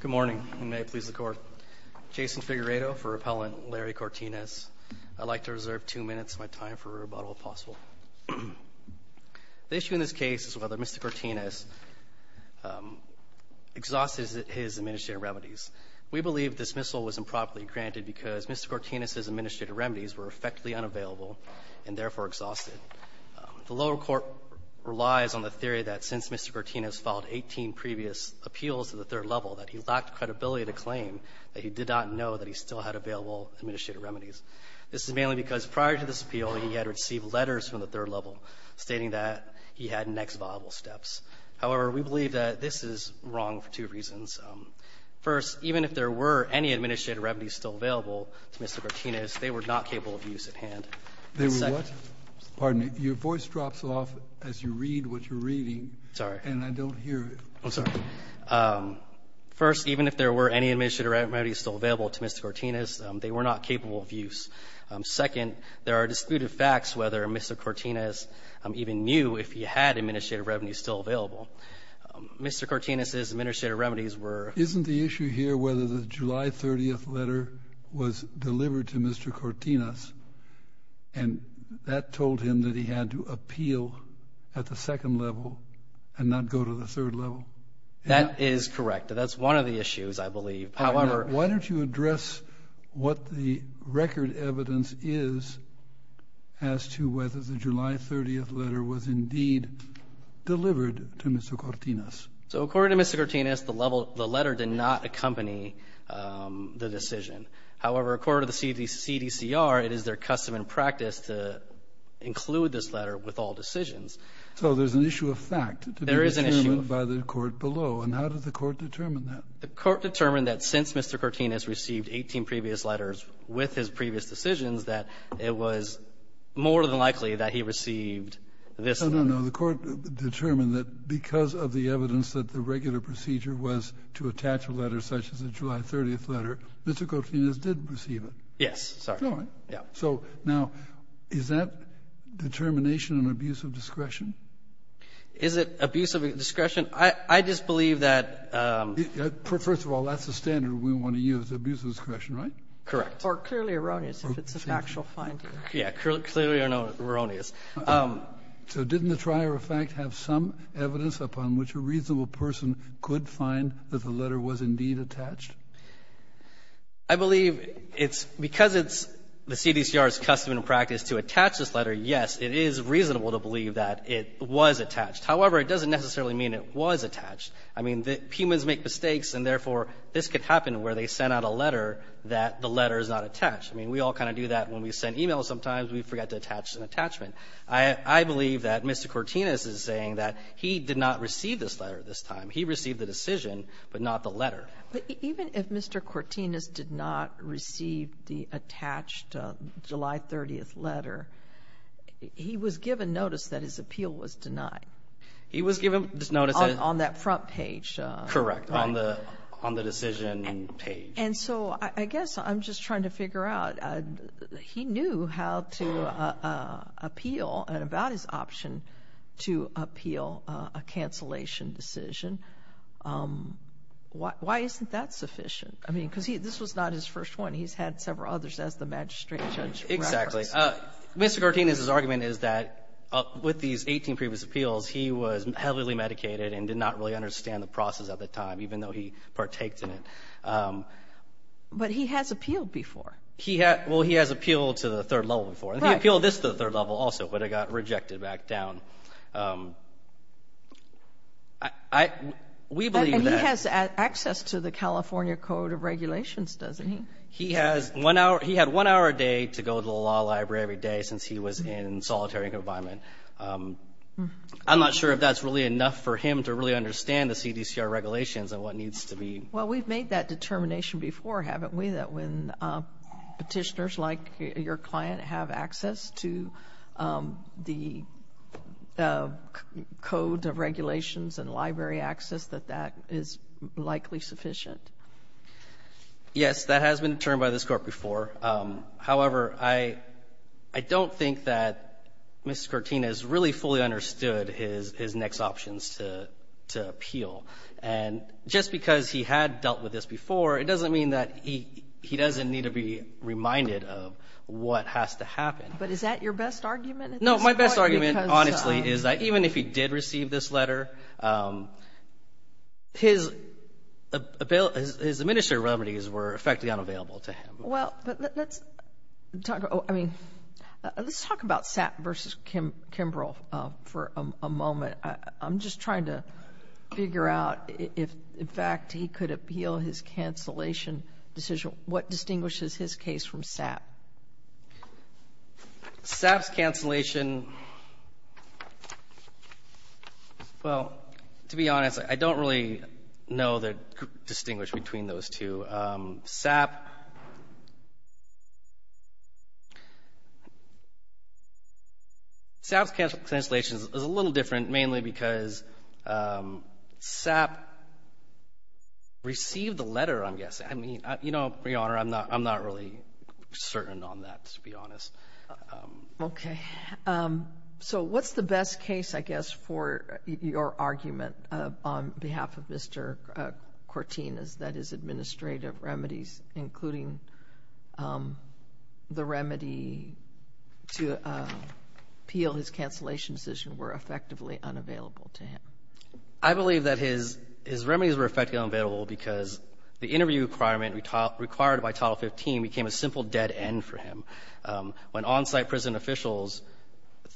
Good morning, and may it please the Court. Jason Figueredo for Appellant Larry Cortinas. I'd like to reserve two minutes of my time for rebuttal, if possible. The issue in this case is whether Mr. Cortinas exhausted his administrative remedies. We believe dismissal was improperly granted because Mr. Cortinas's administrative remedies were effectively unavailable and therefore exhausted. The lower court relies on the theory that since Mr. Cortinas filed 18 previous appeals to the third level, that he lacked credibility to claim that he did not know that he still had available administrative remedies. This is mainly because prior to this appeal, he had received letters from the third level stating that he had next viable steps. However, we believe that this is wrong for two reasons. First, even if there were any administrative remedies still available to Mr. Cortinas, they were not capable of use at hand. And second ---- Kennedy, your voice drops off as you read what you're reading. Cortinas, Jr. Sorry. Kennedy, and I don't hear you. Cortinas, Jr. I'm sorry. First, even if there were any administrative remedies still available to Mr. Cortinas, they were not capable of use. Second, there are disputed facts whether Mr. Cortinas even knew if he had administrative remedies still available. Mr. Cortinas's administrative remedies were ---- Kennedy, isn't the issue here whether the July 30th letter was delivered to Mr. Cortinas and that told him that he had to appeal at the second level and not go to the third level? That is correct. That's one of the issues, I believe. However ---- Why don't you address what the record evidence is as to whether the July 30th letter was indeed delivered to Mr. Cortinas? So according to Mr. Cortinas, the letter did not accompany the decision. However, according to the CDCR, it is their custom and practice to include this letter with all decisions. So there's an issue of fact to be determined by the court below. And how did the court determine that? The court determined that since Mr. Cortinas received 18 previous letters with his previous decisions that it was more than likely that he received this letter. No, no, no. The court determined that because of the evidence that the regular procedure was to attach a letter such as the July 30th letter, Mr. Cortinas did receive it. Yes. So now, is that determination an abuse of discretion? Is it abuse of discretion? I just believe that ---- First of all, that's the standard we want to use, abuse of discretion, right? Correct. Or clearly erroneous, if it's an actual finding. Yeah. Clearly or no erroneous. So didn't the trier of fact have some evidence upon which a reasonable person could find that the letter was indeed attached? I believe it's because it's the CDCR's custom and practice to attach this letter, yes, it is reasonable to believe that it was attached. However, it doesn't necessarily mean it was attached. I mean, the humans make mistakes, and therefore, this could happen where they send out a letter that the letter is not attached. I mean, we all kind of do that when we send e-mails sometimes. We forget to attach an attachment. I believe that Mr. Cortines is saying that he did not receive this letter this time. He received the decision, but not the letter. But even if Mr. Cortines did not receive the attached July 30th letter, he was given notice that his appeal was denied. He was given notice that ---- On that front page. Correct. On the decision page. And so I guess I'm just trying to figure out, he knew how to appeal and about his option to appeal a cancellation decision. Why isn't that sufficient? I mean, because this was not his first one. He's had several others as the magistrate judge. Exactly. Mr. Cortines' argument is that with these 18 previous appeals, he was heavily medicated and did not really understand the process at the time, even though he partakes in it. But he has appealed before. Well, he has appealed to the third level before. He appealed this to the third level also, but it got rejected back down. We believe that ---- And he has access to the California Code of Regulations, doesn't he? He had one hour a day to go to the law library every day since he was in solitary confinement. I'm not sure if that's really enough for him to really understand the CDCR regulations and what needs to be ---- Well, we've made that determination before, haven't we, that when Petitioners like your client have access to the Code of Regulations and library access, that that is likely sufficient? Yes. That has been determined by this Court before. However, I don't think that Mr. Cortines really fully understood his next options to appeal. And just because he had dealt with this before, it doesn't mean that he doesn't need to be reminded of what has to happen. But is that your best argument at this point? No. My best argument, honestly, is that even if he did receive this letter, his administrative remedies were effectively unavailable to him. Well, let's talk about SAPP versus Kimbrough for a moment. I'm just trying to figure out if, in fact, he could appeal his cancellation decision. What distinguishes his case from SAPP? SAPP's cancellation, well, to be honest, I don't really know the distinguish between those two. SAPP's cancellation is a little different, mainly because SAPP received the letter, I'm guessing. I mean, you know, Your Honor, I'm not really certain on that, to be honest. Okay. So what's the best case, I guess, for your argument on behalf of Mr. Cortines that his administrative remedies, including the remedy to appeal his cancellation decision, were effectively unavailable to him? I believe that his remedies were effectively unavailable because the interview requirement required by Title 15 became a simple dead end for him. When on-site prison officials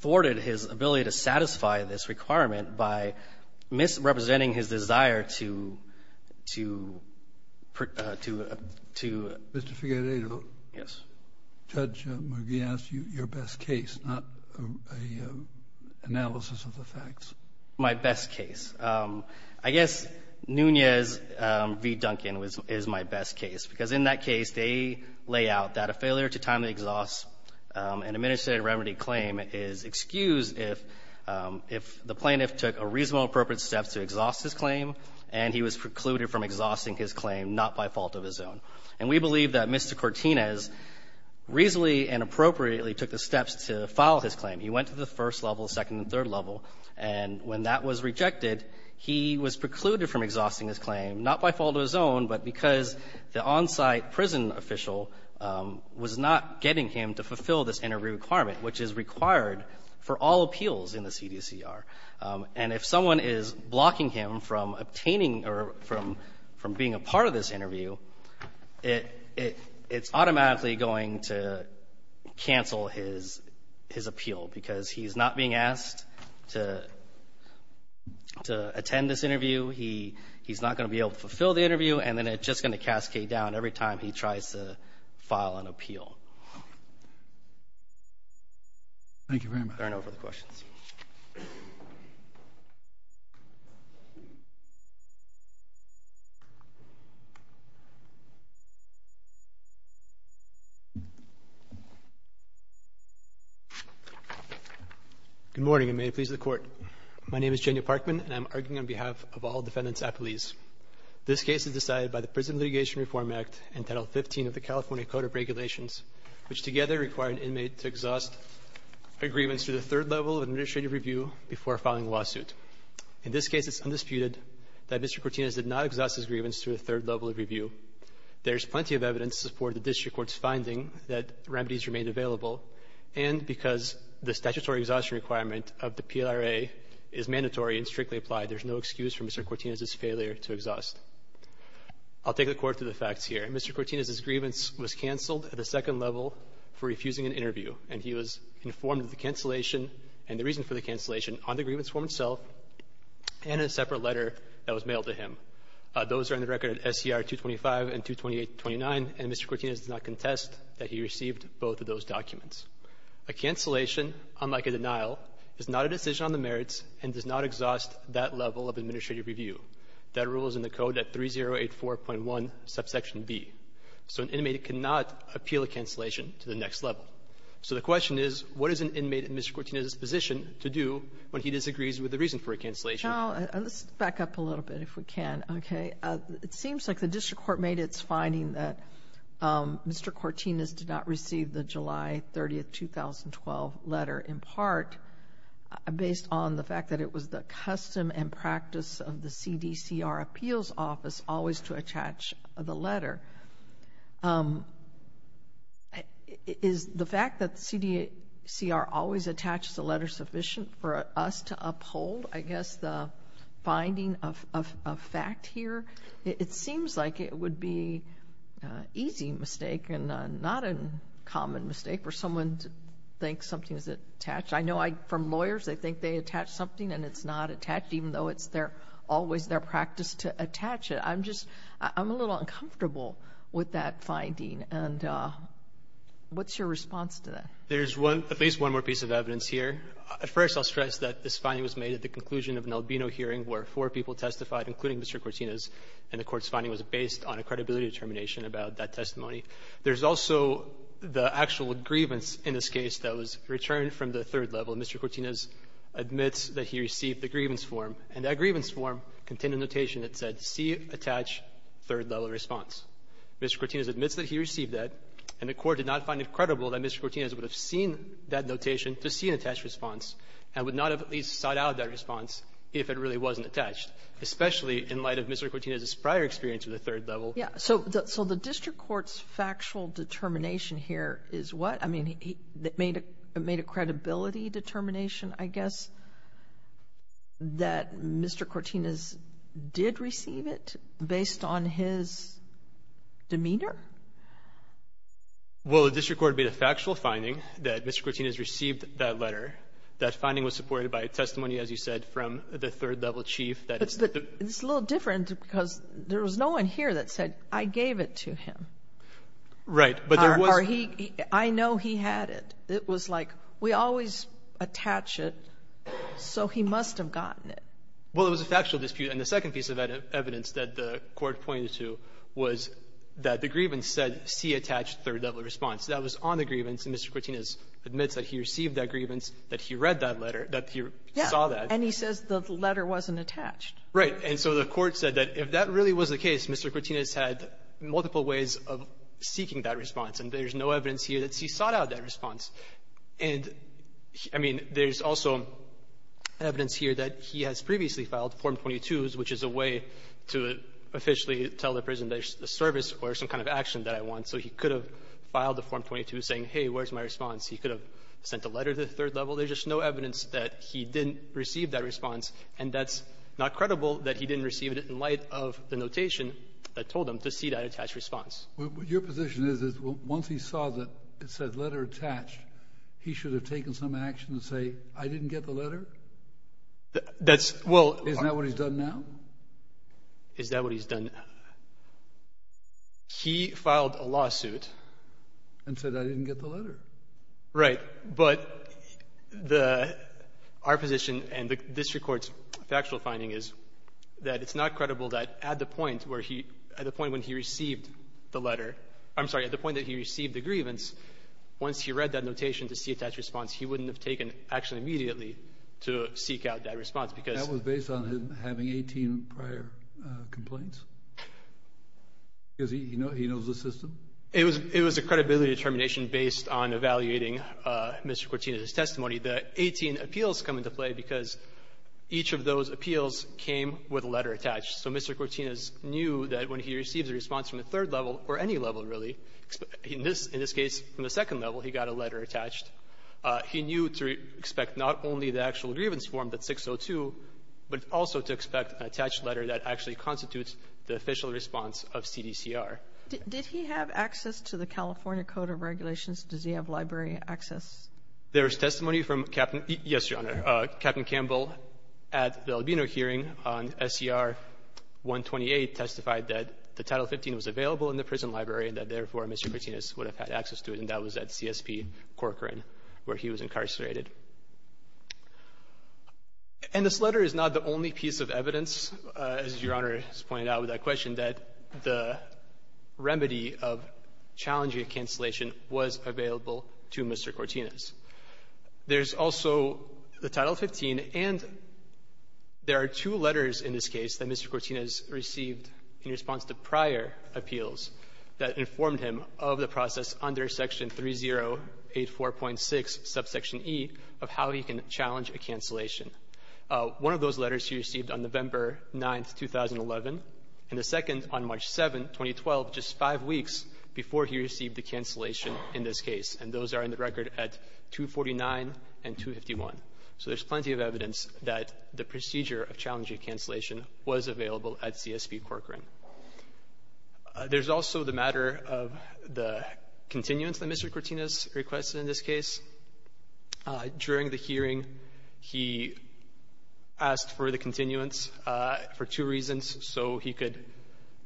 thwarted his ability to satisfy this requirement by misrepresenting his desire to — to — to — to — Mr. Figueredo. Yes. Judge McGee asked you your best case, not an analysis of the facts. My best case. I guess Nunez v. Duncan is my best case, because in that case, they lay out that a failure to time the exhaust and administrative remedy claim is excused if the plaintiff took a reasonable, appropriate step to exhaust his claim and he was precluded from exhausting his claim not by fault of his own. And we believe that Mr. Cortines reasonably and appropriately took the steps to file his claim. He went to the first level, second and third level, and when that was rejected, he was precluded from exhausting his claim, not by fault of his own, but because the on-site prison official was not getting him to fulfill this interview requirement, which is required for all appeals in the CDCR. And if someone is blocking him from obtaining or from — from being a part of this interview, it — it — it's automatically going to cancel his — his appeal, because he's not being asked to — to attend this interview. He — he's not going to be able to fulfill the interview, and then it's just going to cascade down every time he tries to file an appeal. Thank you very much. I turn over the questions. Good morning, and may it please the Court. My name is Jenia Parkman, and I'm arguing on behalf of all defendants at police. This case is decided by the plaintiffs' of the California Code of Regulations, which together require an inmate to exhaust a grievance to the third level of an administrative review before filing a lawsuit. In this case, it's undisputed that Mr. Cortinez did not exhaust his grievance to the third level of review. There's plenty of evidence to support the district court's finding that remedies remained available, and because the statutory exhaustion requirement of the PLRA is mandatory and strictly applied, there's no excuse for Mr. Cortinez's failure to exhaust. I'll take the Court to the facts here. Mr. Cortinez's grievance was canceled at the second level for refusing an interview, and he was informed of the cancellation and the reason for the cancellation on the grievance form itself and in a separate letter that was mailed to him. Those are on the record at SCR 225 and 22829, and Mr. Cortinez did not contest that he received both of those documents. A cancellation, unlike a denial, is not a decision on the merits and does not exhaust that level of administrative review. That rule is in the Code at 3084.1, subsection B. So an inmate cannot appeal a cancellation to the next level. So the question is, what is an inmate in Mr. Cortinez's position to do when he disagrees with the reason for a cancellation? Sotomayor, let's back up a little bit, if we can, okay? It seems like the district court made its finding that Mr. Cortinez did not receive the July 30, 2012, letter in part based on the fact that it was the custom and practice of the CDCR Appeals Office always to attach the letter. Is the fact that CDCR always attaches a letter sufficient for us to uphold, I guess, the finding of fact here? It seems like it would be an easy mistake and not a common mistake for someone to think something is attached. I know from lawyers, they think they attach something and it's not attached, even though it's always their practice to attach it. I'm just ‑‑ I'm a little uncomfortable with that finding. And what's your response to that? There's one ‑‑ at least one more piece of evidence here. First, I'll stress that this finding was made at the conclusion of an Albino hearing where four people testified, including Mr. Cortinez, and the Court's finding was based on a credibility determination about that testimony. There's also the actual grievance in this case that was returned from the third level. Mr. Cortinez admits that he received the grievance form, and that grievance form contained a notation that said, C, attach third-level response. Mr. Cortinez admits that he received that, and the Court did not find it credible that Mr. Cortinez would have seen that notation to see an attached response and would not have at least sought out that response if it really wasn't attached, especially in light of Mr. Cortinez's prior experience with the third level. Yeah. So the district court's factual determination here is what? I mean, it made a credibility determination, I guess, that Mr. Cortinez did receive it based on his demeanor? Well, the district court made a factual finding that Mr. Cortinez received that letter. That finding was supported by a testimony, as you said, from the third-level chief that it's the ---- It's a little different because there was no one here that said, I gave it to him. Right. But there was ---- Or he ---- I know he had it. It was like, we always attach it, so he must have gotten it. Well, it was a factual dispute. And the second piece of evidence that the Court pointed to was that the grievance said, see attached third-level response. That was on the grievance, and Mr. Cortinez admits that he received that grievance, that he read that letter, that he saw that. Yeah. And he says the letter wasn't attached. Right. And so the Court said that if that really was the case, Mr. Cortinez had multiple ways of seeking that response, and there's no evidence here that he sought out that response. And, I mean, there's also evidence here that he has previously filed, Form 22s, which is a way to officially tell the prison there's a service or some kind of action that I want. So he could have filed the Form 22 saying, hey, where's my response? He could have sent a letter to the third level. There's just no evidence that he didn't receive that response. And that's not credible that he didn't receive it in light of the notation that told him to see that attached response. Your position is, is once he saw that it said letter attached, he should have taken some action to say, I didn't get the letter? That's ---- Well, isn't that what he's done now? Is that what he's done now? He filed a lawsuit. And said I didn't get the letter. Right. But the ---- our position, and this Court's factual finding is that it's not credible that at the point where he ---- at the point when he received the letter ---- I'm sorry, at the point that he received the grievance, once he read that notation to see attached response, he wouldn't have taken action immediately to seek out that response, because ---- That was based on him having 18 prior complaints? Because he knows the system? It was a credibility determination based on evaluating Mr. Cortina's testimony. The 18 appeals come into play because each of those appeals came with a letter attached. So Mr. Cortina's knew that when he received a response from the third level, or any level, really, in this case, from the second level, he got a letter attached. He knew to expect not only the actual grievance form, that 602, but also to expect an attached letter that actually constitutes the official response of CDCR. Did he have access to the California Code of Regulations? Does he have library access? There is testimony from Captain ---- yes, Your Honor. Captain Campbell, at the Albino hearing on SCR 128, testified that the Title 15 was available in the prison library and that, therefore, Mr. Cortina would have had access to it, and that was at CSP Corcoran, where he was incarcerated. And this letter is not the only piece of evidence, as Your Honor has pointed out with that question, that the remedy of challenging a cancellation was available to Mr. Cortina's. There's also the Title 15, and there are two letters in this case that Mr. Cortina's received in response to prior appeals that informed him of the process under Section 3084.6, Subsection E, of how he can challenge a cancellation. One of those letters he received on November 9, 2011, and the second on March 7, 2012, just five weeks before he received a cancellation in this case. And those are in the record at 249 and 251. So there's plenty of evidence that the procedure of challenging cancellation was available at CSP Corcoran. There's also the matter of the continuance that Mr. Cortina's requested in this case. During the hearing, he asked for the continuance for two reasons. So he could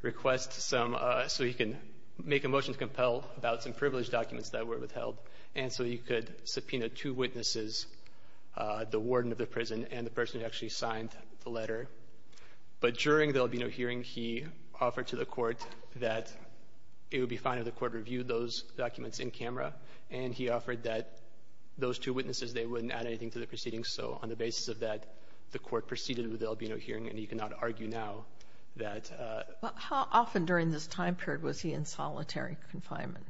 request some so he can make a motion to compel about some privileged documents that were withheld, and so he could subpoena two witnesses, the warden and the prosecutor. But during the Albino hearing, he offered to the court that it would be fine if the court reviewed those documents in camera, and he offered that those two witnesses, they wouldn't add anything to the proceedings. So on the basis of that, the court proceeded with the Albino hearing, and you cannot argue now that... But how often during this time period was he in solitary confinement?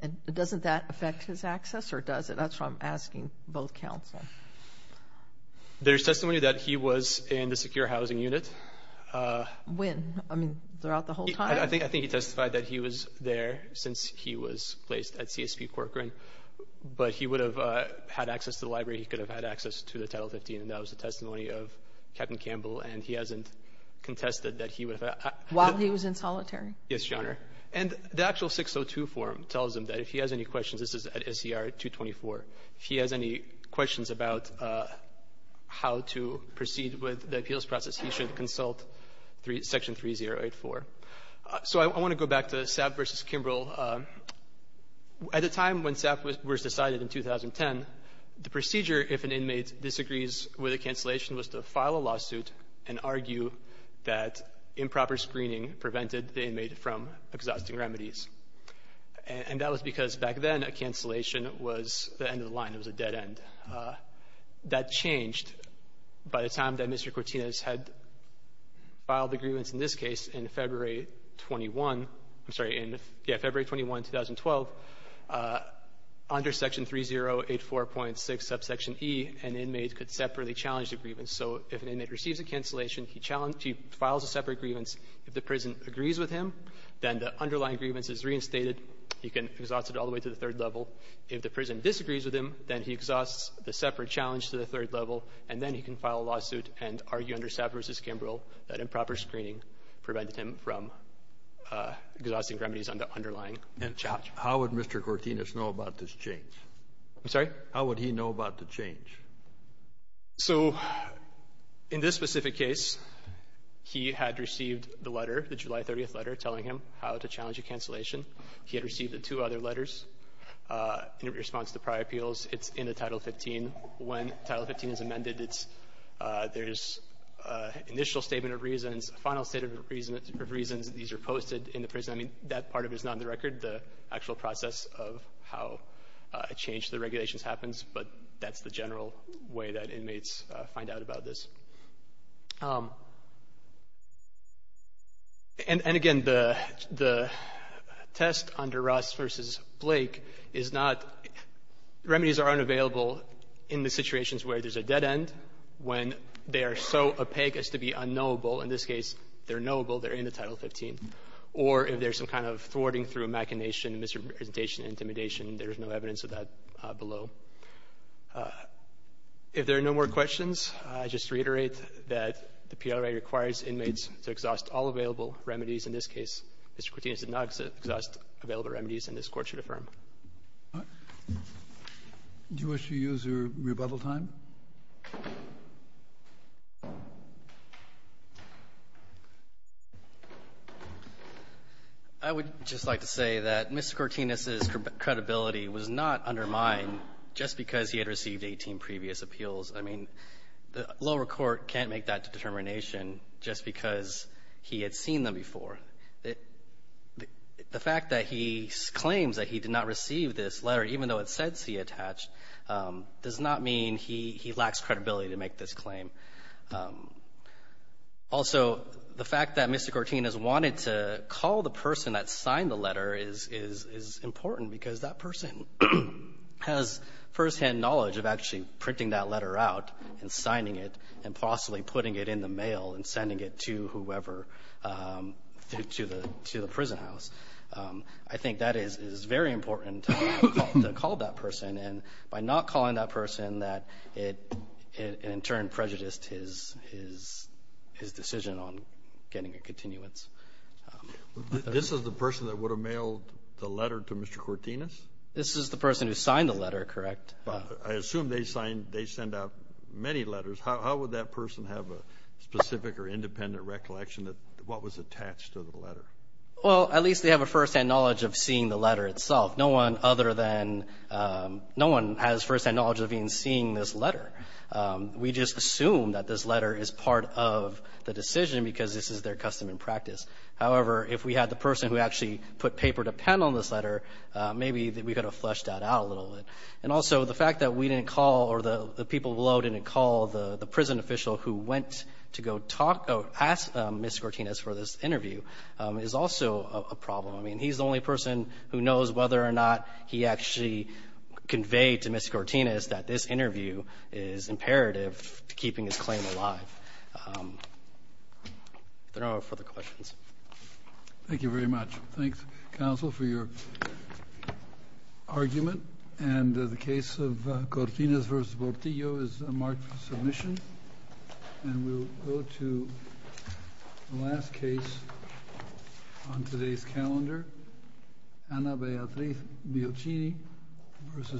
And doesn't that affect his access, or does it? That's what I'm asking both counsel. There's testimony that he was in the secure housing unit. When? I mean, throughout the whole time? I think he testified that he was there since he was placed at CSP Corcoran, but he would have had access to the library. He could have had access to the Title 15, and that was the testimony of Captain Campbell, and he hasn't contested that he would have... While he was in solitary? Yes, Your Honor. And the actual 602 form tells him that if he has any questions, this is at SCR 224, if he has any questions about how to proceed with the appeals process, he should consult Section 3084. So I want to go back to Sapp v. Kimbrell. At the time when Sapp was decided in 2010, the procedure if an inmate disagrees with a cancellation was to file a lawsuit and argue that improper screening prevented the inmate from exhausting remedies. And that was because back then a cancellation was the end of the line. It was a dead end. That changed by the time that Mr. Cortinez had filed the grievance in this case in February 21. I'm sorry, in February 21, 2012, under Section 3084.6, subsection E, an inmate could separately challenge the grievance. So if an inmate receives a cancellation, he challenged to file a separate grievance. If the prison agrees with him, then the underlying grievance is reinstated. He can exhaust it all the way to the third level. If the prison disagrees with him, then he exhausts the separate challenge to the third level, and then he can file a lawsuit and argue under Sapp v. Kimbrell that improper screening prevented him from exhausting remedies on the underlying challenge. And how would Mr. Cortinez know about this change? I'm sorry? How would he know about the change? So in this specific case, he had received the letter, the July 30th letter, telling him how to challenge a cancellation. He had received the two other letters in response to prior appeals. It's in the Title 15. When Title 15 is amended, it's — there's an initial statement of reasons, a final statement of reasons that these are posted in the prison. I mean, that part of it is not on the record, the actual process of how a change to the regulations happens, but that's the general way that inmates find out about this. And again, the test under Ross v. Blake is not — remedies are unavailable in the situations where there's a dead end, when they are so opaque as to be unknowable. In this case, they're knowable, they're in the Title 15. Or if there's some kind of thwarting through machination, misrepresentation, intimidation, there is no evidence of that below. If there are no more questions, I just reiterate that the PLRA requires inmates to exhaust all available remedies in this case. Mr. Cortinis did not exhaust available remedies, and this Court should affirm. Do you wish to use your rebuttal time? I would just like to say that Mr. Cortinis' credibility was not undermined just because he had received 18 previous appeals. I mean, the lower court can't make that determination just because he had seen them before. The fact that he claims that he did not receive this letter, even though it said C attached, does not mean he lacks credibility to make this claim. Also, the fact that Mr. Cortinis wanted to call the person that signed the letter is important, because that person has firsthand knowledge of actually printing that letter out and signing it and possibly putting it in the mail and sending it to whoever — to the prison house. I think that is very important to call that person. And by not calling that person, that, in turn, prejudiced his decision on getting a continuance. This is the person that would have mailed the letter to Mr. Cortinis? This is the person who signed the letter, correct? I assume they signed — they sent out many letters. How would that person have a specific or independent recollection of what was attached to the letter? Well, at least they have a firsthand knowledge of seeing the letter itself. No one other than — no one has firsthand knowledge of even seeing this letter. We just assume that this letter is part of the decision because this is their custom and practice. However, if we had the person who actually put paper to pen on this letter, maybe we could have flushed that out a little bit. And also, the fact that we didn't call or the people below didn't call the prison official who went to go talk — ask Mr. Cortinis for this interview is also a problem. I mean, he's the only person who knows whether or not he actually conveyed to Mr. Cortinis that this interview is imperative to keeping his claim alive. If there are no further questions. Thank you very much. Thanks, counsel, for your argument. And the case of Cortinis v. Portillo is marked for submission. And we'll go to the last case on today's calendar, Anna Beatrice Biocini v. Sessions.